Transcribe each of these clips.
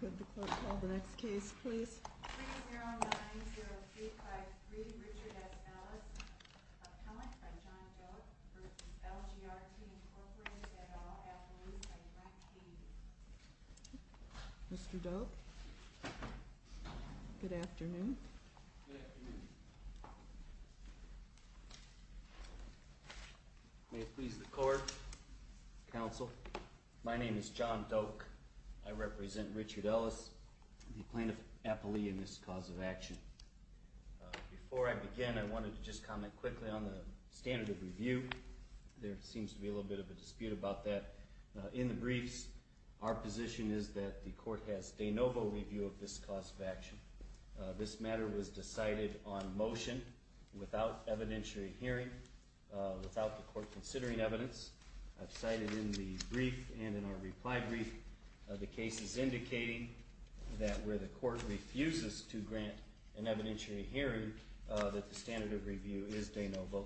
Good, the clerk will call the next case, please. 3090353 Richard S. Ellis, appellant by John Doak, v. LGRT, incorporates et al. affluence by Brent King. Mr. Doak, good afternoon. Good afternoon. May it please the court, counsel, my name is John Doak. I represent Richard Ellis, the plaintiff appellee in this cause of action. Before I begin, I wanted to just comment quickly on the standard of review. There seems to be a little bit of a dispute about that. In the briefs, our position is that the court has de novo review of this cause of action. This matter was decided on motion without evidentiary hearing, without the court considering evidence. I've cited in the brief and in our reply brief the cases indicating that where the court refuses to grant an evidentiary hearing, that the standard of review is de novo,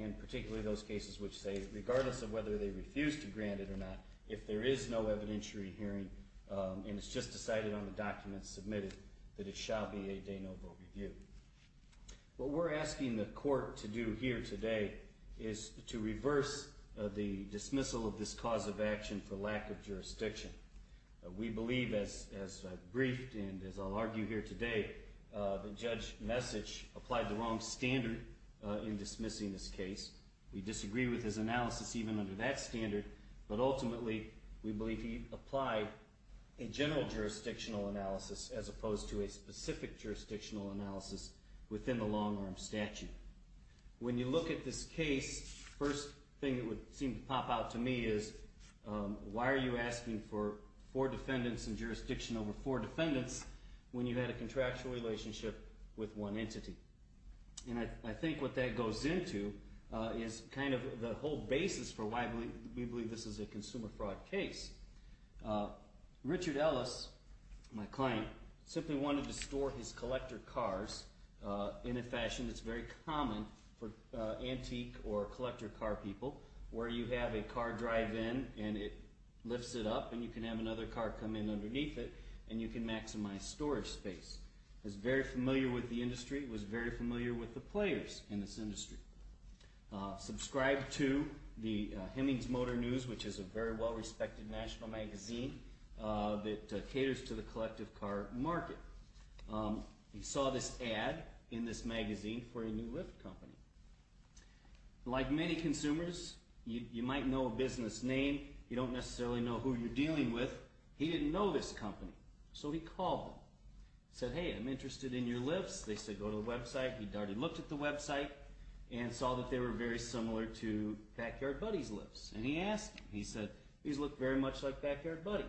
and particularly those cases which say, regardless of whether they refuse to grant it or not, if there is no evidentiary hearing and it's just decided on the documents submitted, that it shall be a de novo review. What we're asking the court to do here today is to reverse the dismissal of this cause of action for lack of jurisdiction. We believe, as I've briefed and as I'll argue here today, that Judge Messich applied the wrong standard in dismissing this case. We disagree with his analysis even under that standard, but ultimately, we believe he applied a general jurisdictional analysis as opposed to a specific jurisdictional analysis within the long-arm statute. When you look at this case, the first thing that would seem to pop out to me is, why are you asking for four defendants and jurisdiction over four defendants when you had a contractual relationship with one entity? And I think what that goes into is kind of the whole basis for why we believe this is a consumer fraud case. Richard Ellis, my client, simply wanted to store his collector cars in a fashion that's very common for antique or collector car people, where you have a car drive in and it lifts it up and you can have another car come in underneath it and you can maximize storage space. He was very familiar with the industry. He was very familiar with the players in this industry. Subscribed to the Hemings Motor News, which is a very well-respected national magazine that caters to the collective car market. He saw this ad in this magazine for a new lift company. Like many consumers, you might know a business name. You don't necessarily know who you're dealing with. He didn't know this company, so he called them. He said, hey, I'm interested in your lifts. They said, go to the website. He'd already looked at the website and saw that they were very similar to Backyard Buddy's lifts. And he asked them. He said, these look very much like Backyard Buddy.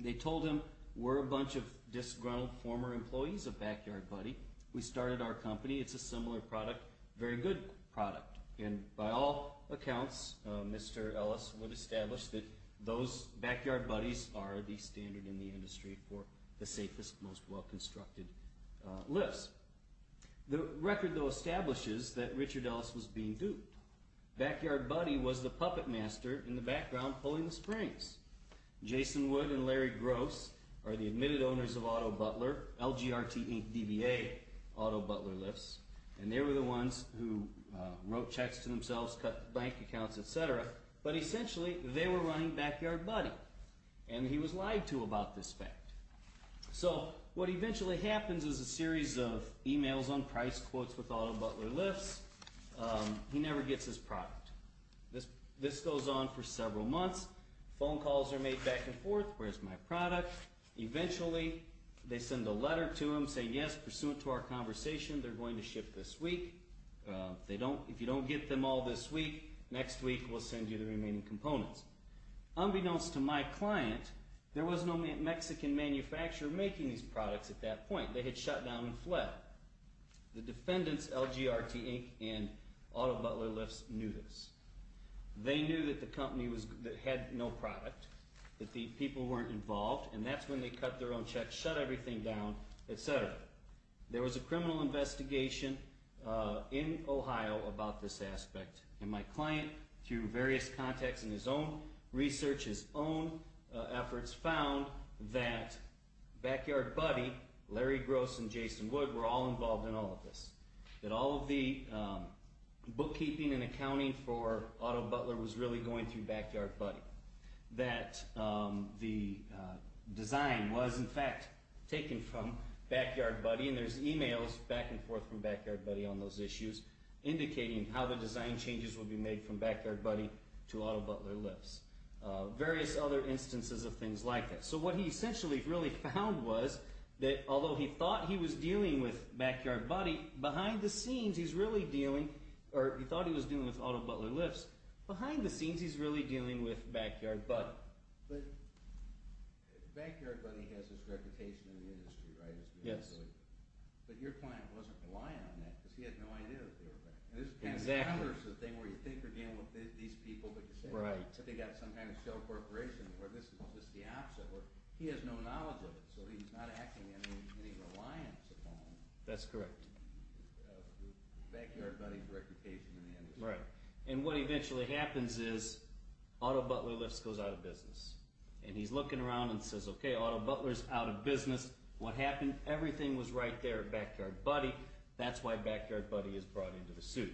They told him, we're a bunch of disgruntled former employees of Backyard Buddy. We started our company. It's a similar product, very good product. And by all accounts, Mr. Ellis would establish that those Backyard Buddies are the standard in the industry for the safest, most well-constructed lifts. The record, though, establishes that Richard Ellis was being duped. Backyard Buddy was the puppet master in the background pulling the springs. Jason Wood and Larry Gross are the admitted owners of Autobutler, LGRT, DBA Autobutler lifts. And they were the ones who wrote checks to themselves, cut bank accounts, et cetera. But essentially, they were running Backyard Buddy. And he was lied to about this fact. So what eventually happens is a series of emails on price quotes with Autobutler lifts. He never gets his product. This goes on for several months. Phone calls are made back and forth. Where's my product? Eventually, they send a letter to him saying, yes, pursuant to our conversation, they're going to ship this week. If you don't get them all this week, next week we'll send you the remaining components. Unbeknownst to my client, there was no Mexican manufacturer making these products at that point. They had shut down and fled. The defendants, LGRT, Inc., and Autobutler lifts knew this. They knew that the company had no product, that the people weren't involved. And that's when they cut their own checks, shut everything down, et cetera. There was a criminal investigation in Ohio about this aspect. And my client, through various contacts in his own research, his own efforts, found that Backyard Buddy, Larry Gross, and Jason Wood were all involved in all of this. That all of the bookkeeping and accounting for Autobutler was really going through Backyard Buddy. That the design was, in fact, taken from Backyard Buddy. And there's e-mails back and forth from Backyard Buddy on those issues, indicating how the design changes would be made from Backyard Buddy to Autobutler lifts. Various other instances of things like that. So what he essentially really found was that although he thought he was dealing with Autobutler lifts, behind the scenes he's really dealing with Backyard Buddy. But Backyard Buddy has this reputation in the industry, right? Yes. But your client wasn't reliant on that because he had no idea that they were back. Exactly. The counter is the thing where you think you're dealing with these people, but you're saying they've got some kind of shell corporation, where this is just the opposite. He has no knowledge of it, so he's not acting in any reliance upon Backyard Buddy's reputation in the industry. Right. And what eventually happens is Autobutler lifts goes out of business. And he's looking around and says, okay, Autobutler's out of business. What happened? Everything was right there at Backyard Buddy. That's why Backyard Buddy is brought into the suit.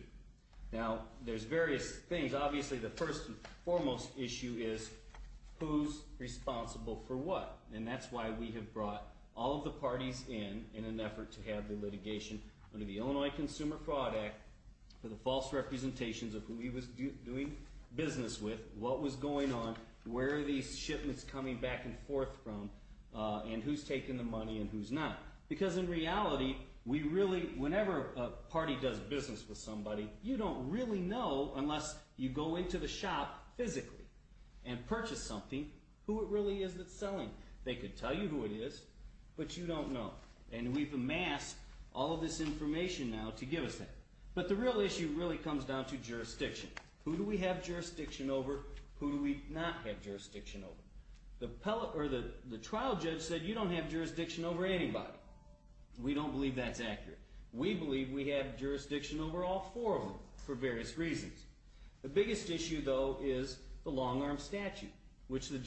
Now, there's various things. Obviously, the first and foremost issue is who's responsible for what? And that's why we have brought all of the parties in, in an effort to have the litigation under the Illinois Consumer Fraud Act for the false representations of who he was doing business with, what was going on, where are these shipments coming back and forth from, and who's taking the money and who's not. Because in reality, whenever a party does business with somebody, you don't really know unless you go into the shop physically and purchase something who it really is that's selling. They could tell you who it is, but you don't know. And we've amassed all of this information now to give us that. But the real issue really comes down to jurisdiction. Who do we have jurisdiction over? Who do we not have jurisdiction over? The trial judge said, you don't have jurisdiction over anybody. We don't believe that's accurate. We believe we have jurisdiction over all four of them for various reasons. The biggest issue, though, is the long-arm statute, which the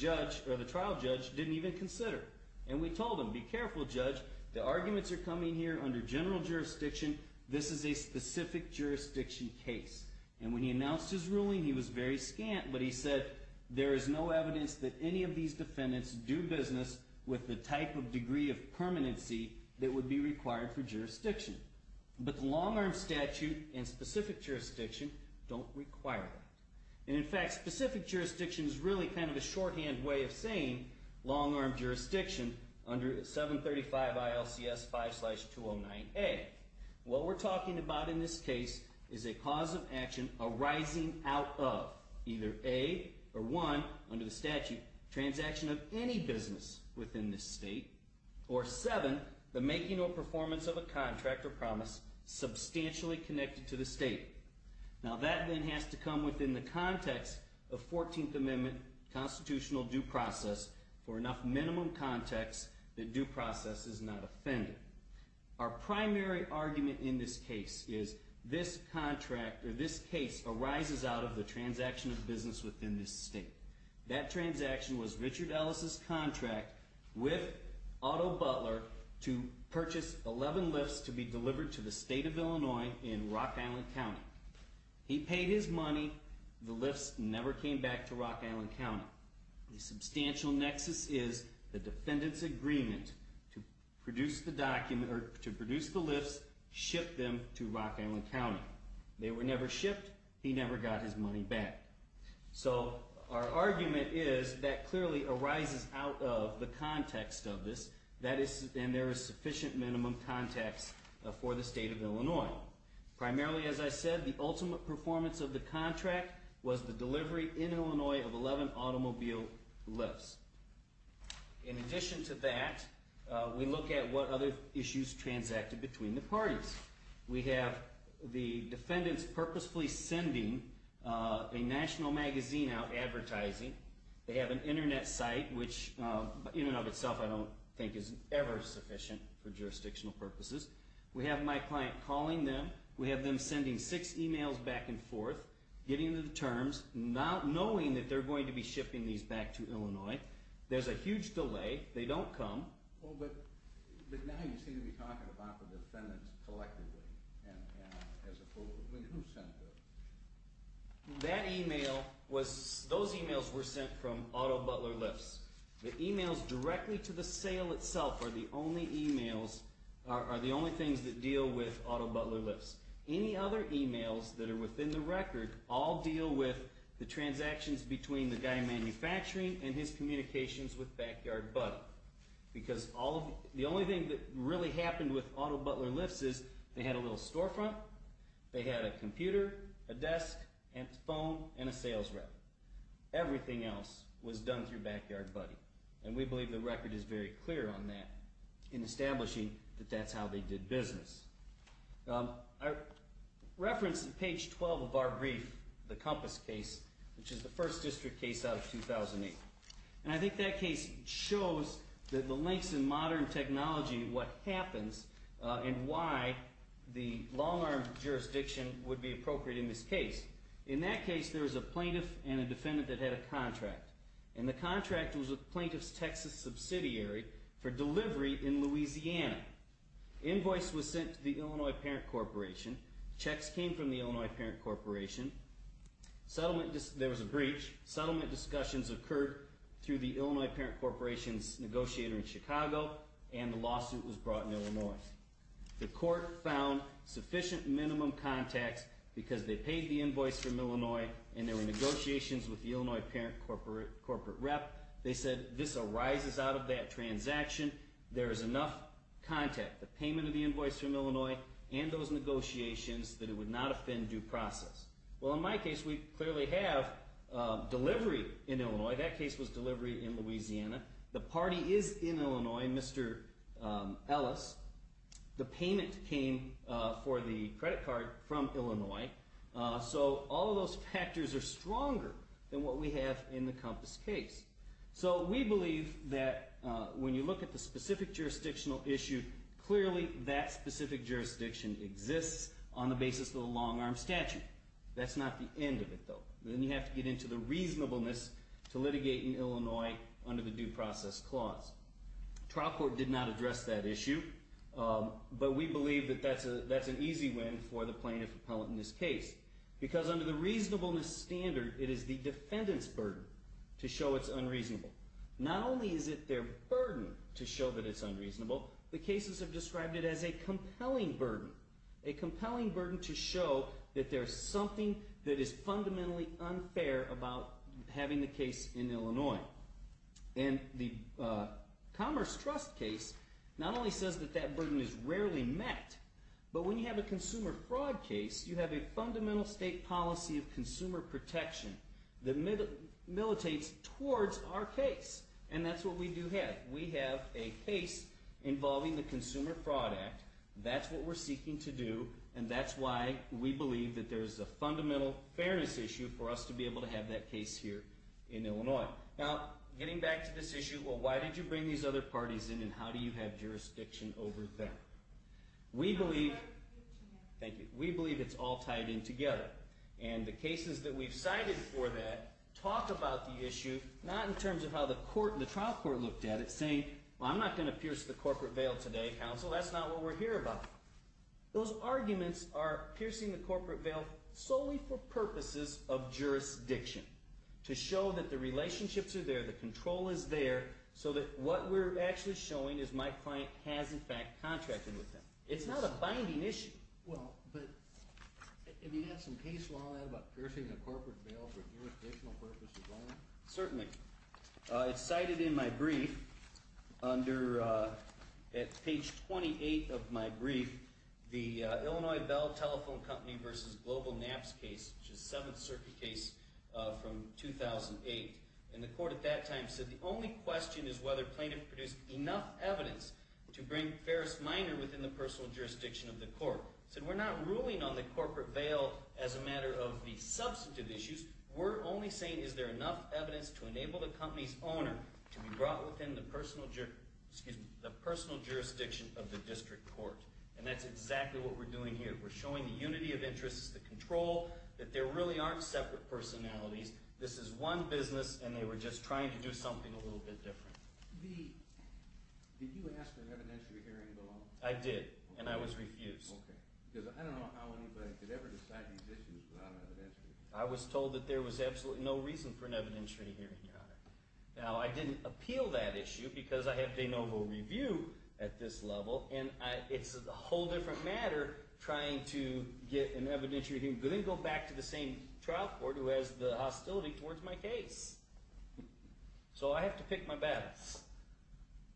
trial judge didn't even consider. And we told him, be careful, Judge. The arguments are coming here under general jurisdiction. This is a specific jurisdiction case. And when he announced his ruling, he was very scant, but he said, there is no evidence that any of these defendants do business with the type of degree of permanency that would be required for jurisdiction. But the long-arm statute and specific jurisdiction don't require that. And, in fact, specific jurisdiction is really kind of a shorthand way of saying long-arm jurisdiction under 735 ILCS 5-209A. What we're talking about in this case is a cause of action arising out of either A or 1, under the statute, transaction of any business within this state, or 7, the making or performance of a contract or promise substantially connected to the state. Now, that then has to come within the context of 14th Amendment constitutional due process for enough minimum context that due process is not offended. Our primary argument in this case is this contract, or this case, arises out of the transaction of business within this state. That transaction was Richard Ellis' contract with Otto Butler to purchase 11 Lyfts to be delivered to the state of Illinois in Rock Island County. He paid his money. The Lyfts never came back to Rock Island County. The substantial nexus is the defendant's agreement to produce the Lyfts, ship them to Rock Island County. They were never shipped. He never got his money back. So our argument is that clearly arises out of the context of this, and there is sufficient minimum context for the state of Illinois. Primarily, as I said, the ultimate performance of the contract was the delivery in Illinois of 11 automobile Lyfts. In addition to that, we look at what other issues transacted between the parties. We have the defendants purposefully sending a national magazine out advertising. They have an Internet site, which in and of itself I don't think is ever sufficient for jurisdictional purposes. We have my client calling them. We have them sending six emails back and forth, getting into the terms, knowing that they're going to be shipping these back to Illinois. There's a huge delay. They don't come. Well, but now you seem to be talking about the defendants collectively, and as a whole. Who sent those? That email was—those emails were sent from Otto Butler Lyfts. The emails directly to the sale itself are the only emails—are the only things that deal with Otto Butler Lyfts. Any other emails that are within the record all deal with the transactions between the guy manufacturing and his communications with Backyard Buddy. Because all of—the only thing that really happened with Otto Butler Lyfts is they had a little storefront. They had a computer, a desk, a phone, and a sales rep. Everything else was done through Backyard Buddy. And we believe the record is very clear on that in establishing that that's how they did business. I referenced page 12 of our brief, the Compass case, which is the first district case out of 2008. And I think that case shows that the links in modern technology, what happens, and why the long-arm jurisdiction would be appropriate in this case. In that case, there was a plaintiff and a defendant that had a contract. And the contract was a plaintiff's Texas subsidiary for delivery in Louisiana. Invoice was sent to the Illinois Parent Corporation. Checks came from the Illinois Parent Corporation. Settlement—there was a breach. Settlement discussions occurred through the Illinois Parent Corporation's negotiator in Chicago, and the lawsuit was brought in Illinois. The court found sufficient minimum contacts because they paid the invoice from Illinois, and there were negotiations with the Illinois Parent Corporate Rep. They said this arises out of that transaction. There is enough contact, the payment of the invoice from Illinois and those negotiations, that it would not offend due process. Well, in my case, we clearly have delivery in Illinois. That case was delivery in Louisiana. The party is in Illinois, Mr. Ellis. The payment came for the credit card from Illinois. So all of those factors are stronger than what we have in the Compass case. So we believe that when you look at the specific jurisdictional issue, clearly that specific jurisdiction exists on the basis of the long-arm statute. That's not the end of it, though. Then you have to get into the reasonableness to litigate in Illinois under the due process clause. Trial court did not address that issue, but we believe that that's an easy win for the plaintiff-appellant in this case because under the reasonableness standard, it is the defendant's burden to show it's unreasonable. Not only is it their burden to show that it's unreasonable, the cases have described it as a compelling burden, a compelling burden to show that there's something that is fundamentally unfair about having the case in Illinois. And the Commerce Trust case not only says that that burden is rarely met, but when you have a consumer fraud case, you have a fundamental state policy of consumer protection that militates towards our case, and that's what we do have. We have a case involving the Consumer Fraud Act. That's what we're seeking to do, and that's why we believe that there's a fundamental fairness issue for us to be able to have that case here in Illinois. Now, getting back to this issue, well, why did you bring these other parties in, and how do you have jurisdiction over them? We believe it's all tied in together, and the cases that we've cited for that talk about the issue, not in terms of how the trial court looked at it, saying, well, I'm not going to pierce the corporate veil today, counsel, that's not what we're here about. Those arguments are piercing the corporate veil solely for purposes of jurisdiction, to show that the relationships are there, the control is there, so that what we're actually showing is my client has, in fact, contracted with them. It's not a binding issue. Well, but have you had some case law about piercing the corporate veil for jurisdictional purposes only? Certainly. It's cited in my brief under page 28 of my brief, the Illinois Bell Telephone Company v. Global Naps case, which is a Seventh Circuit case from 2008. And the court at that time said the only question is whether plaintiff produced enough evidence to bring Ferris Minor within the personal jurisdiction of the court. It said we're not ruling on the corporate veil as a matter of the substantive issues. We're only saying is there enough evidence to enable the company's owner to be brought within the personal jurisdiction of the district court. And that's exactly what we're doing here. We're showing the unity of interests, the control, that there really aren't separate personalities. This is one business, and they were just trying to do something a little bit different. Did you ask for an evidentiary hearing, though? I did, and I was refused. Okay, because I don't know how anybody could ever decide these issues without an evidentiary. I was told that there was absolutely no reason for an evidentiary hearing, Your Honor. Now, I didn't appeal that issue because I have de novo review at this level, and it's a whole different matter trying to get an evidentiary hearing but then go back to the same trial court who has the hostility towards my case. So I have to pick my battles.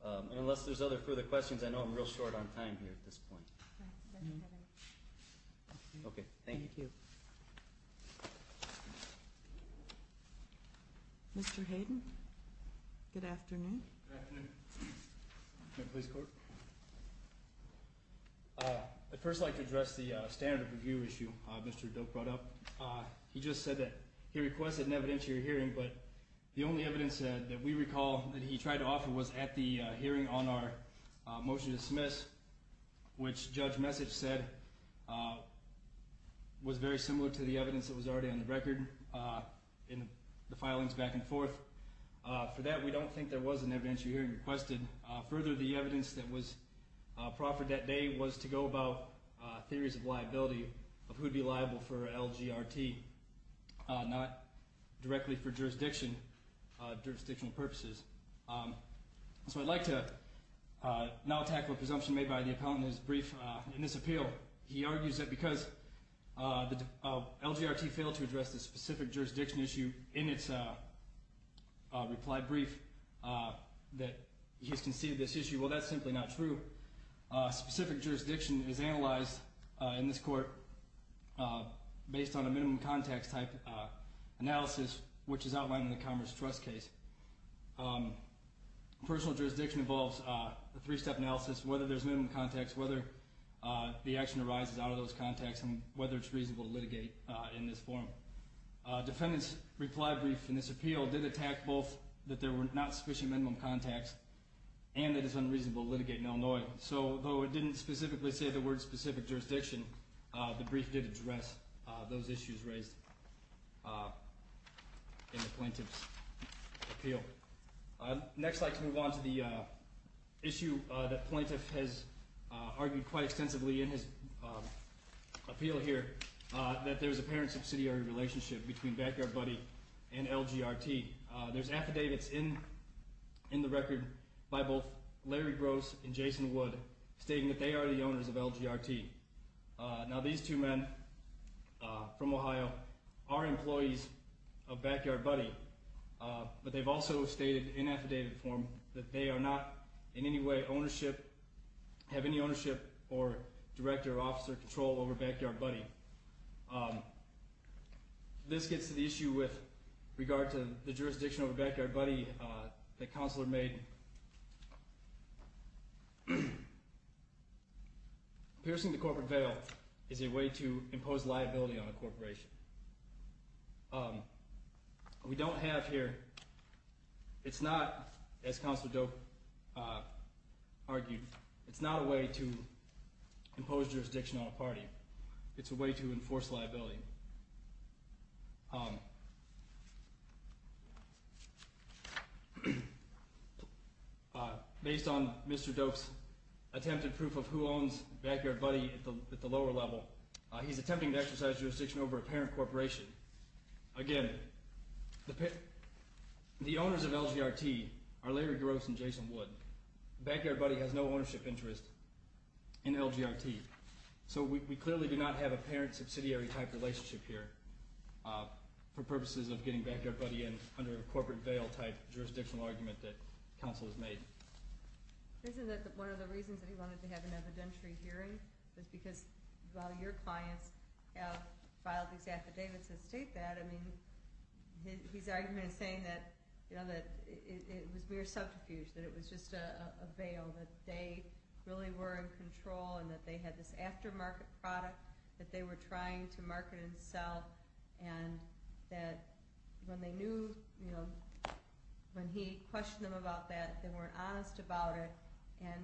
And unless there's other further questions, I know I'm real short on time here at this point. Okay, thank you. Mr. Hayden, good afternoon. Good afternoon. Ma'am, please record. I'd first like to address the standard of review issue Mr. Doak brought up. He just said that he requested an evidentiary hearing, but the only evidence that we recall that he tried to offer was at the hearing on our motion to dismiss, which Judge Message said was very similar to the evidence that was already on the record in the filings back and forth. For that, we don't think there was an evidentiary hearing requested. Further, the evidence that was proffered that day was to go about theories of liability, of who would be liable for LGRT, not directly for jurisdictional purposes. So I'd like to now tackle a presumption made by the appellant in his brief in this appeal. He argues that because LGRT failed to address the specific jurisdiction issue in its reply brief that he's conceived this issue. Well, that's simply not true. Specific jurisdiction is analyzed in this court based on a minimum context type analysis, which is outlined in the Commerce Trust case. Personal jurisdiction involves a three-step analysis, whether there's minimum context, whether the action arises out of those contexts, and whether it's reasonable to litigate in this form. Defendant's reply brief in this appeal did attack both that there were not sufficient minimum context and that it's unreasonable to litigate in Illinois. So although it didn't specifically say the word specific jurisdiction, the brief did address those issues raised in the plaintiff's appeal. Next, I'd like to move on to the issue that the plaintiff has argued quite extensively in his appeal here, that there's an apparent subsidiary relationship between Backyard Buddy and LGRT. There's affidavits in the record by both Larry Gross and Jason Wood stating that they are the owners of LGRT. Now, these two men from Ohio are employees of Backyard Buddy, but they've also stated in affidavit form that they are not in any way ownership, have any ownership or director or officer control over Backyard Buddy. This gets to the issue with regard to the jurisdiction over Backyard Buddy that Counselor made. Piercing the corporate veil is a way to impose liability on a corporation. We don't have here, it's not, as Counselor Doak argued, it's not a way to impose jurisdiction on a party. It's a way to enforce liability. Based on Mr. Doak's attempted proof of who owns Backyard Buddy at the lower level, he's attempting to exercise jurisdiction over a parent corporation. Again, the owners of LGRT are Larry Gross and Jason Wood. Backyard Buddy has no ownership interest in LGRT. So we clearly do not have a parent subsidiary type relationship here for purposes of getting Backyard Buddy in under a corporate veil type jurisdictional argument that Counselor's made. Isn't that one of the reasons that he wanted to have an evidentiary hearing? Because a lot of your clients have filed these affidavits that state that. I mean, his argument is saying that it was mere subterfuge, that it was just a veil, that they really were in control and that they had this aftermarket product that they were trying to market and sell and that when they knew, when he questioned them about that, they weren't honest about it. And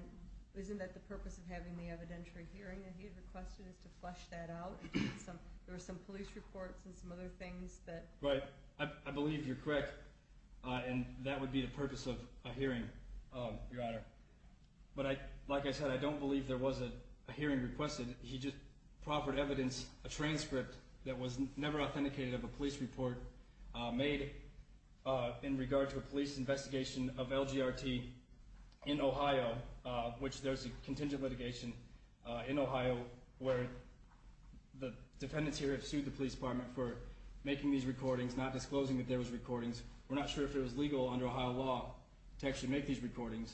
isn't that the purpose of having the evidentiary hearing that he had requested is to flesh that out? There were some police reports and some other things that... Right. I believe you're correct, and that would be the purpose of a hearing, Your Honor. But like I said, I don't believe there was a hearing requested. He just proffered evidence, a transcript that was never authenticated of a police report, made in regard to a police investigation of LGRT in Ohio, which there's a contingent litigation in Ohio, where the defendants here have sued the police department for making these recordings, not disclosing that there was recordings. We're not sure if it was legal under Ohio law to actually make these recordings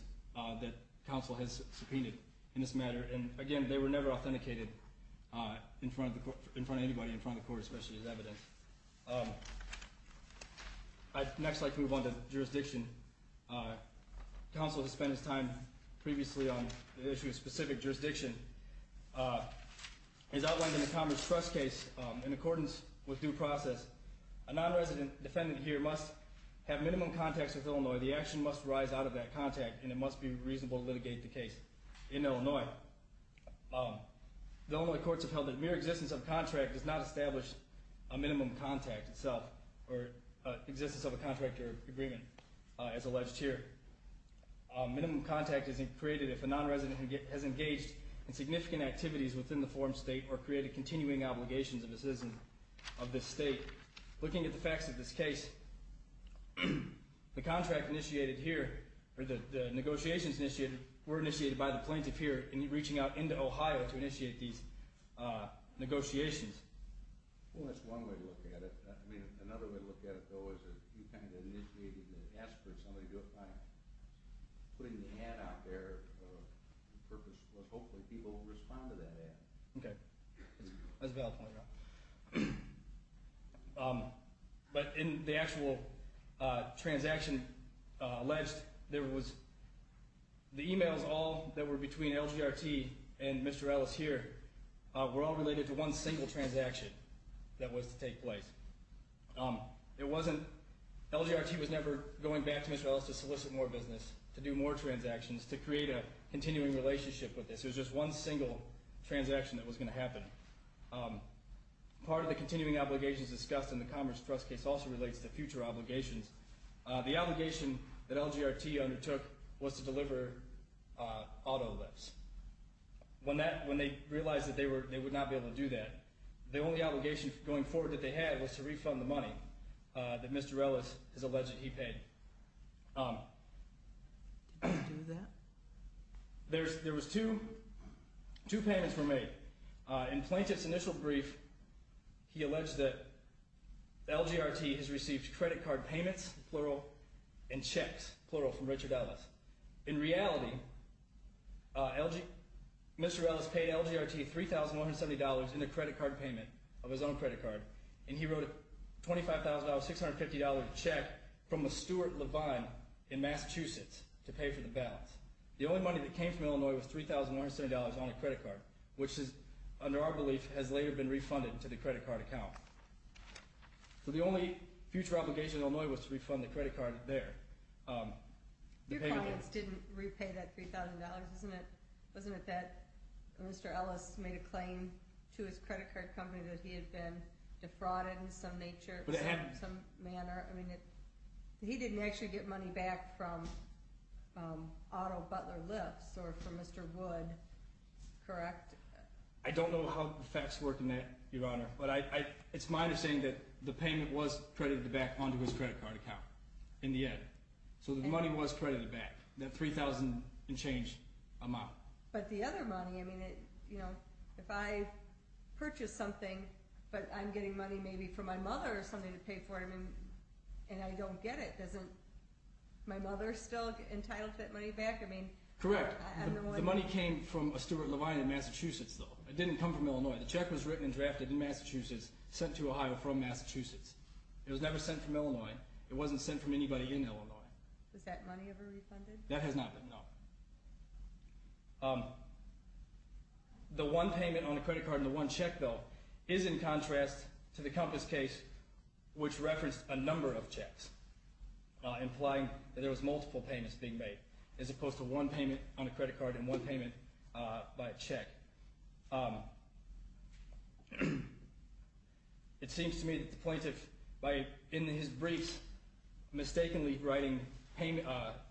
that counsel has subpoenaed in this matter. And again, they were never authenticated in front of anybody, in front of the court, especially as evidence. Next, I'd like to move on to jurisdiction. Counsel has spent his time previously on the issue of specific jurisdiction. As outlined in the Commerce Trust case, in accordance with due process, a non-resident defendant here must have minimum contacts with Illinois. The action must rise out of that contact, and it must be reasonable to litigate the case in Illinois. The Illinois courts have held that mere existence of contract does not establish a minimum contact itself, or existence of a contract or agreement, as alleged here. Minimum contact is created if a non-resident has engaged in significant activities within the form state or created continuing obligations of a citizen of this state. Looking at the facts of this case, the contract initiated here, or the negotiations initiated, were initiated by the plaintiff here in reaching out into Ohio to initiate these negotiations. Well, that's one way to look at it. I mean, another way to look at it, though, is that you kind of initiated the ask for somebody to apply. Putting the ad out there, the purpose was hopefully people would respond to that ad. Okay. That's a valid point, yeah. But in the actual transaction alleged, there was the e-mails all that were between LGRT and Mr. Ellis here were all related to one single transaction that was to take place. LGRT was never going back to Mr. Ellis to solicit more business, to do more transactions, to create a continuing relationship with this. It was just one single transaction that was going to happen. Part of the continuing obligations discussed in the Commerce Trust case also relates to future obligations. The obligation that LGRT undertook was to deliver auto lifts. When they realized that they would not be able to do that, the only obligation going forward that they had was to refund the money that Mr. Ellis has alleged that he paid. Did he do that? There was two payments were made. In Plaintiff's initial brief, he alleged that LGRT has received credit card payments, plural, and checks, plural, from Richard Ellis. In reality, Mr. Ellis paid LGRT $3,170 in the credit card payment of his own credit card, and he wrote a $25,000, $650 check from a Stuart Levine in Massachusetts to pay for the balance. The only money that came from Illinois was $3,170 on a credit card, which under our belief has later been refunded to the credit card account. So the only future obligation in Illinois was to refund the credit card there. Your clients didn't repay that $3,000, isn't it? Wasn't it that Mr. Ellis made a claim to his credit card company that he had been defrauded in some nature, some manner? I mean, he didn't actually get money back from auto butler lifts or from Mr. Wood, correct? I don't know how the facts work in that, Your Honor. But it's my understanding that the payment was credited back onto his credit card account in the end. So the money was credited back, that $3,000 and change amount. But the other money, I mean, if I purchase something, but I'm getting money maybe from my mother or something to pay for it, and I don't get it, doesn't my mother still get entitled to that money back? Correct. The money came from a Stuart Levine in Massachusetts, though. It didn't come from Illinois. The check was written and drafted in Massachusetts, sent to Ohio from Massachusetts. It was never sent from Illinois. It wasn't sent from anybody in Illinois. Was that money ever refunded? That has not been, no. The one payment on a credit card and the one check, though, is in contrast to the Compass case, which referenced a number of checks, implying that there was multiple payments being made, as opposed to one payment on a credit card and one payment by a check. It seems to me that the plaintiff, in his briefs, mistakenly writing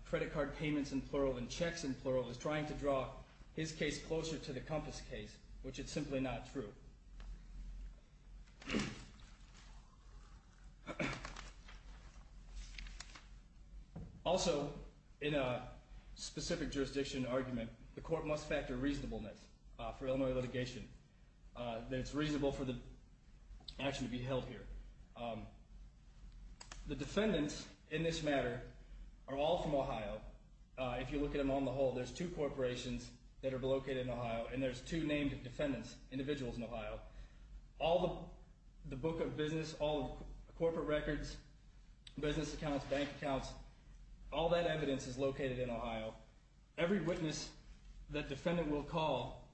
credit card payments in plural and checks in plural is trying to draw his case closer to the Compass case, which is simply not true. Also, in a specific jurisdiction argument, the court must factor reasonableness for Illinois litigation, that it's reasonable for the action to be held here. The defendants in this matter are all from Ohio. If you look at them on the whole, there's two corporations that are located in Ohio, and there's two named defendants, individuals in Ohio. All the book of business, all the corporate records, business accounts, bank accounts, all that evidence is located in Ohio. Every witness that defendant will call,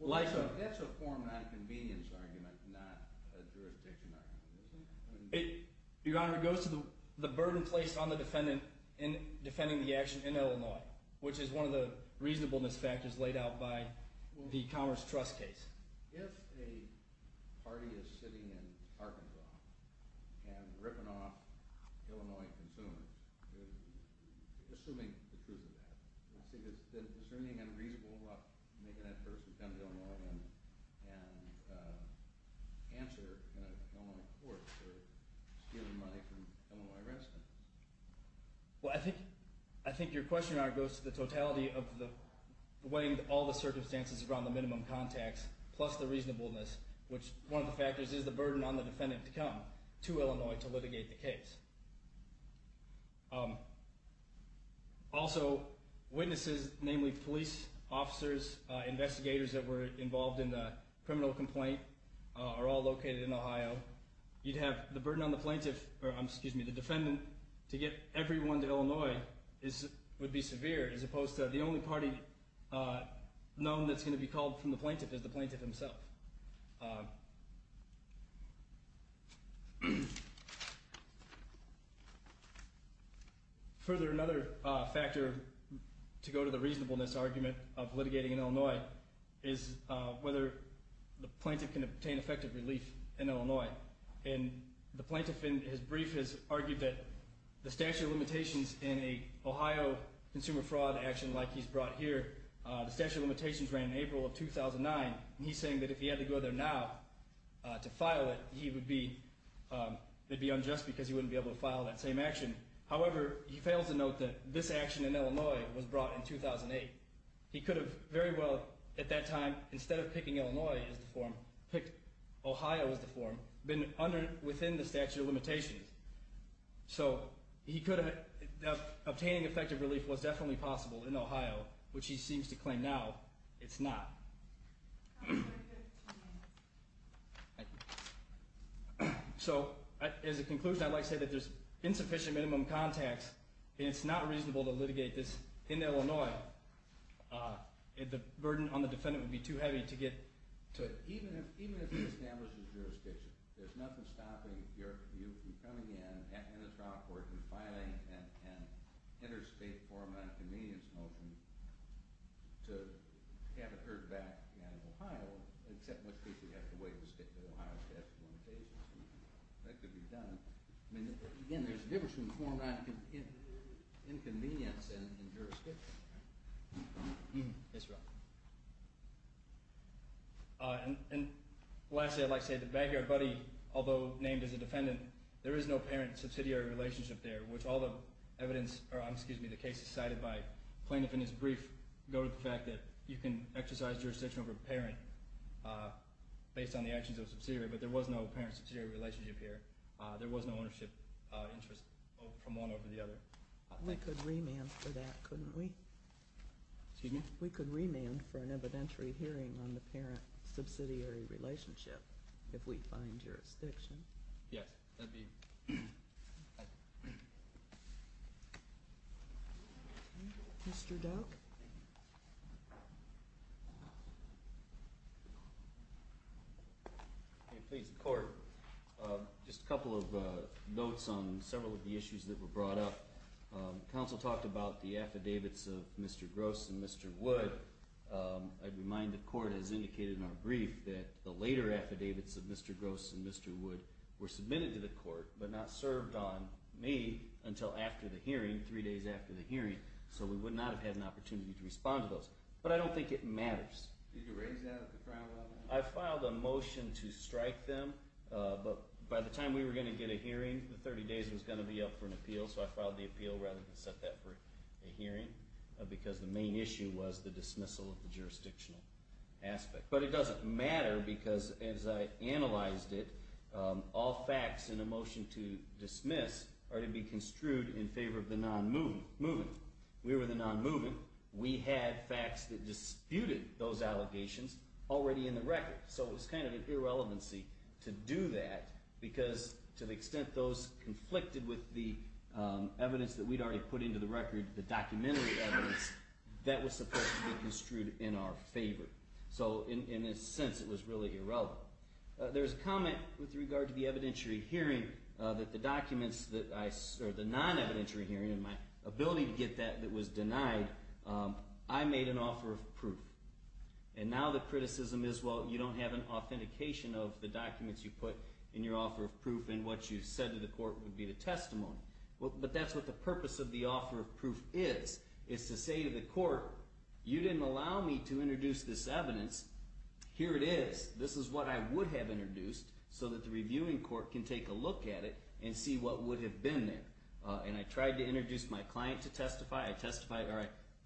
like a— That's a form of convenience argument, not a jurisdiction argument, isn't it? Your Honor, it goes to the burden placed on the defendant in defending the action in Illinois, which is one of the reasonableness factors laid out by the Commerce Trust case. If a party is sitting in Arkansas and ripping off Illinois consumers, assuming the truth of that, is there anything unreasonable about making that person come to Illinois and answer in an Illinois court for stealing money from Illinois residents? Well, I think your question, Your Honor, goes to the totality of weighing all the circumstances around the minimum contacts plus the reasonableness, which one of the factors is the burden on the defendant to come to Illinois to litigate the case. Also, witnesses, namely police officers, investigators that were involved in the criminal complaint, are all located in Ohio. So you'd have the burden on the plaintiff—or, excuse me, the defendant— to get everyone to Illinois would be severe, as opposed to the only party known that's going to be called from the plaintiff is the plaintiff himself. Further, another factor to go to the reasonableness argument of litigating in Illinois is whether the plaintiff can obtain effective relief in Illinois. And the plaintiff in his brief has argued that the statute of limitations in an Ohio consumer fraud action like he's brought here, the statute of limitations ran in April of 2009, and he's saying that if he had to go there now to file it, it would be unjust because he wouldn't be able to file that same action. However, he fails to note that this action in Illinois was brought in 2008. He could have very well, at that time, instead of picking Illinois as the forum, picked Ohio as the forum, been within the statute of limitations. So he could have—obtaining effective relief was definitely possible in Ohio, which he seems to claim now it's not. So as a conclusion, I'd like to say that there's insufficient minimum contacts and it's not reasonable to litigate this in Illinois. The burden on the defendant would be too heavy to get to it. Even if he establishes jurisdiction, there's nothing stopping your view from coming in, in a trial court, and filing an interstate form on a convenience motion to have it heard back in Ohio, except most people have to wait to stick to Ohio's statute of limitations. That could be done. Again, there's a difference between the form and inconvenience in jurisdiction. Yes, sir. And lastly, I'd like to say that the backyard buddy, although named as a defendant, there is no parent-subsidiary relationship there, which all the evidence— or excuse me, the cases cited by plaintiff in his brief go to the fact that you can exercise jurisdiction over a parent based on the actions of a subsidiary, but there was no parent-subsidiary relationship here. There was no ownership interest from one over the other. We could remand for that, couldn't we? Excuse me? We could remand for an evidentiary hearing on the parent-subsidiary relationship if we find jurisdiction. Yes, that'd be— Mr. Doak? If it pleases the Court, just a couple of notes on several of the issues that were brought up. Counsel talked about the affidavits of Mr. Gross and Mr. Wood. I'd remind the Court, as indicated in our brief, that the later affidavits of Mr. Gross and Mr. Wood were submitted to the Court but not served on me until after the hearing, three days after the hearing, so we would not have had an opportunity to respond to those. But I don't think it matters. Did you raise that at the Crown level? I filed a motion to strike them, but by the time we were going to get a hearing, the 30 days was going to be up for an appeal, so I filed the appeal rather than set that for a hearing because the main issue was the dismissal of the jurisdictional aspect. But it doesn't matter because, as I analyzed it, all facts in a motion to dismiss are to be construed in favor of the non-moving. We were the non-moving. We had facts that disputed those allegations already in the record, so it was kind of an irrelevancy to do that because, to the extent those conflicted with the evidence that we'd already put into the record, the documentary evidence, that was supposed to be construed in our favor. So, in a sense, it was really irrelevant. There's a comment with regard to the evidentiary hearing that the non-evidentiary hearing, and my ability to get that that was denied, I made an offer of proof. And now the criticism is, well, you don't have an authentication of the documents you put in your offer of proof and what you said to the court would be the testimony. But that's what the purpose of the offer of proof is, is to say to the court, you didn't allow me to introduce this evidence. Here it is. This is what I would have introduced so that the reviewing court can take a look at it and see what would have been there. And I tried to introduce my client to testify. I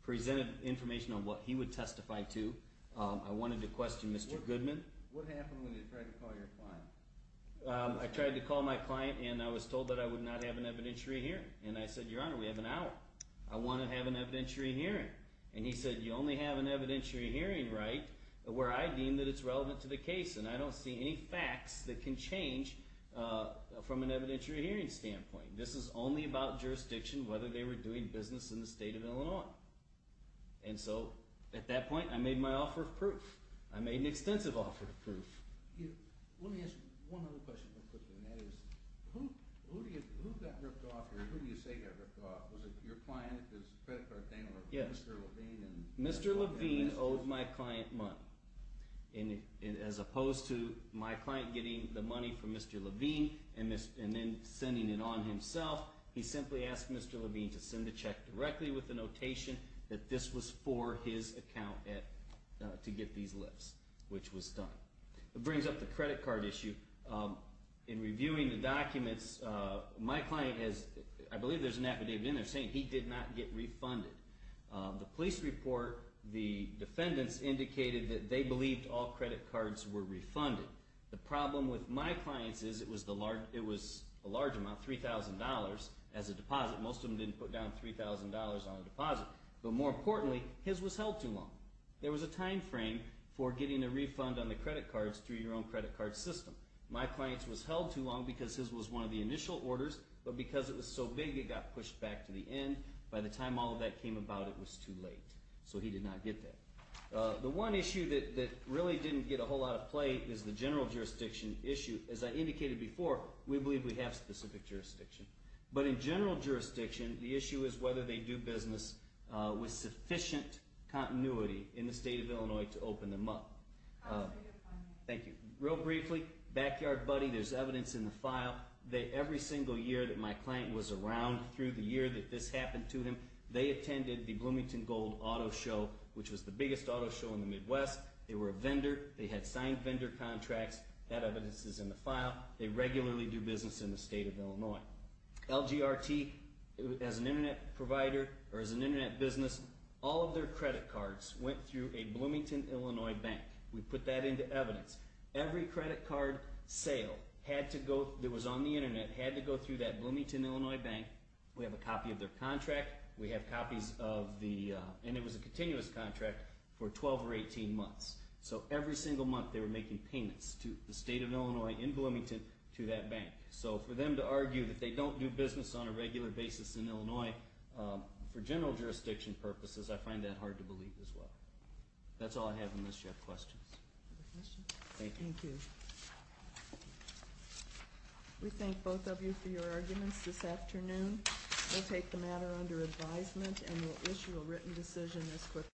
presented information on what he would testify to. I wanted to question Mr. Goodman. What happened when you tried to call your client? I tried to call my client, and I was told that I would not have an evidentiary hearing. And I said, Your Honor, we have an hour. I want to have an evidentiary hearing. And he said, You only have an evidentiary hearing right where I deem that it's relevant to the case, and I don't see any facts that can change from an evidentiary hearing standpoint. This is only about jurisdiction, whether they were doing business in the state of Illinois. And so at that point, I made my offer of proof. I made an extensive offer of proof. Let me ask one other question real quickly, and that is, who got ripped off here? Who do you say got ripped off? Was it your client, his credit card dealer, Mr. Levine? Mr. Levine owed my client money. And as opposed to my client getting the money from Mr. Levine and then sending it on himself, he simply asked Mr. Levine to send a check directly with the notation that this was for his account to get these lifts, which was done. That brings up the credit card issue. In reviewing the documents, my client has, I believe there's an affidavit in there saying he did not get refunded. The police report, the defendants indicated that they believed all credit cards were refunded. The problem with my clients is it was a large amount, $3,000 as a deposit. Most of them didn't put down $3,000 on a deposit. But more importantly, his was held too long. There was a time frame for getting a refund on the credit cards through your own credit card system. My client's was held too long because his was one of the initial orders, but because it was so big, it got pushed back to the end. By the time all of that came about, it was too late. So he did not get that. The one issue that really didn't get a whole lot of play is the general jurisdiction issue. As I indicated before, we believe we have specific jurisdiction. But in general jurisdiction, the issue is whether they do business with sufficient continuity in the state of Illinois to open them up. Thank you. Real briefly, Backyard Buddy, there's evidence in the file. Every single year that my client was around through the year that this happened to him, they attended the Bloomington Gold Auto Show, which was the biggest auto show in the Midwest. They were a vendor. They had signed vendor contracts. That evidence is in the file. They regularly do business in the state of Illinois. LGRT, as an Internet provider or as an Internet business, all of their credit cards went through a Bloomington, Illinois bank. We put that into evidence. Every credit card sale that was on the Internet had to go through that Bloomington, Illinois bank. We have a copy of their contract. We have copies of the – and it was a continuous contract for 12 or 18 months. So every single month they were making payments to the state of Illinois in Bloomington to that bank. So for them to argue that they don't do business on a regular basis in Illinois for general jurisdiction purposes, I find that hard to believe as well. That's all I have unless you have questions. Thank you. Thank you. We thank both of you for your arguments this afternoon. We'll take the matter under advisement and we'll issue a written decision as quickly as possible.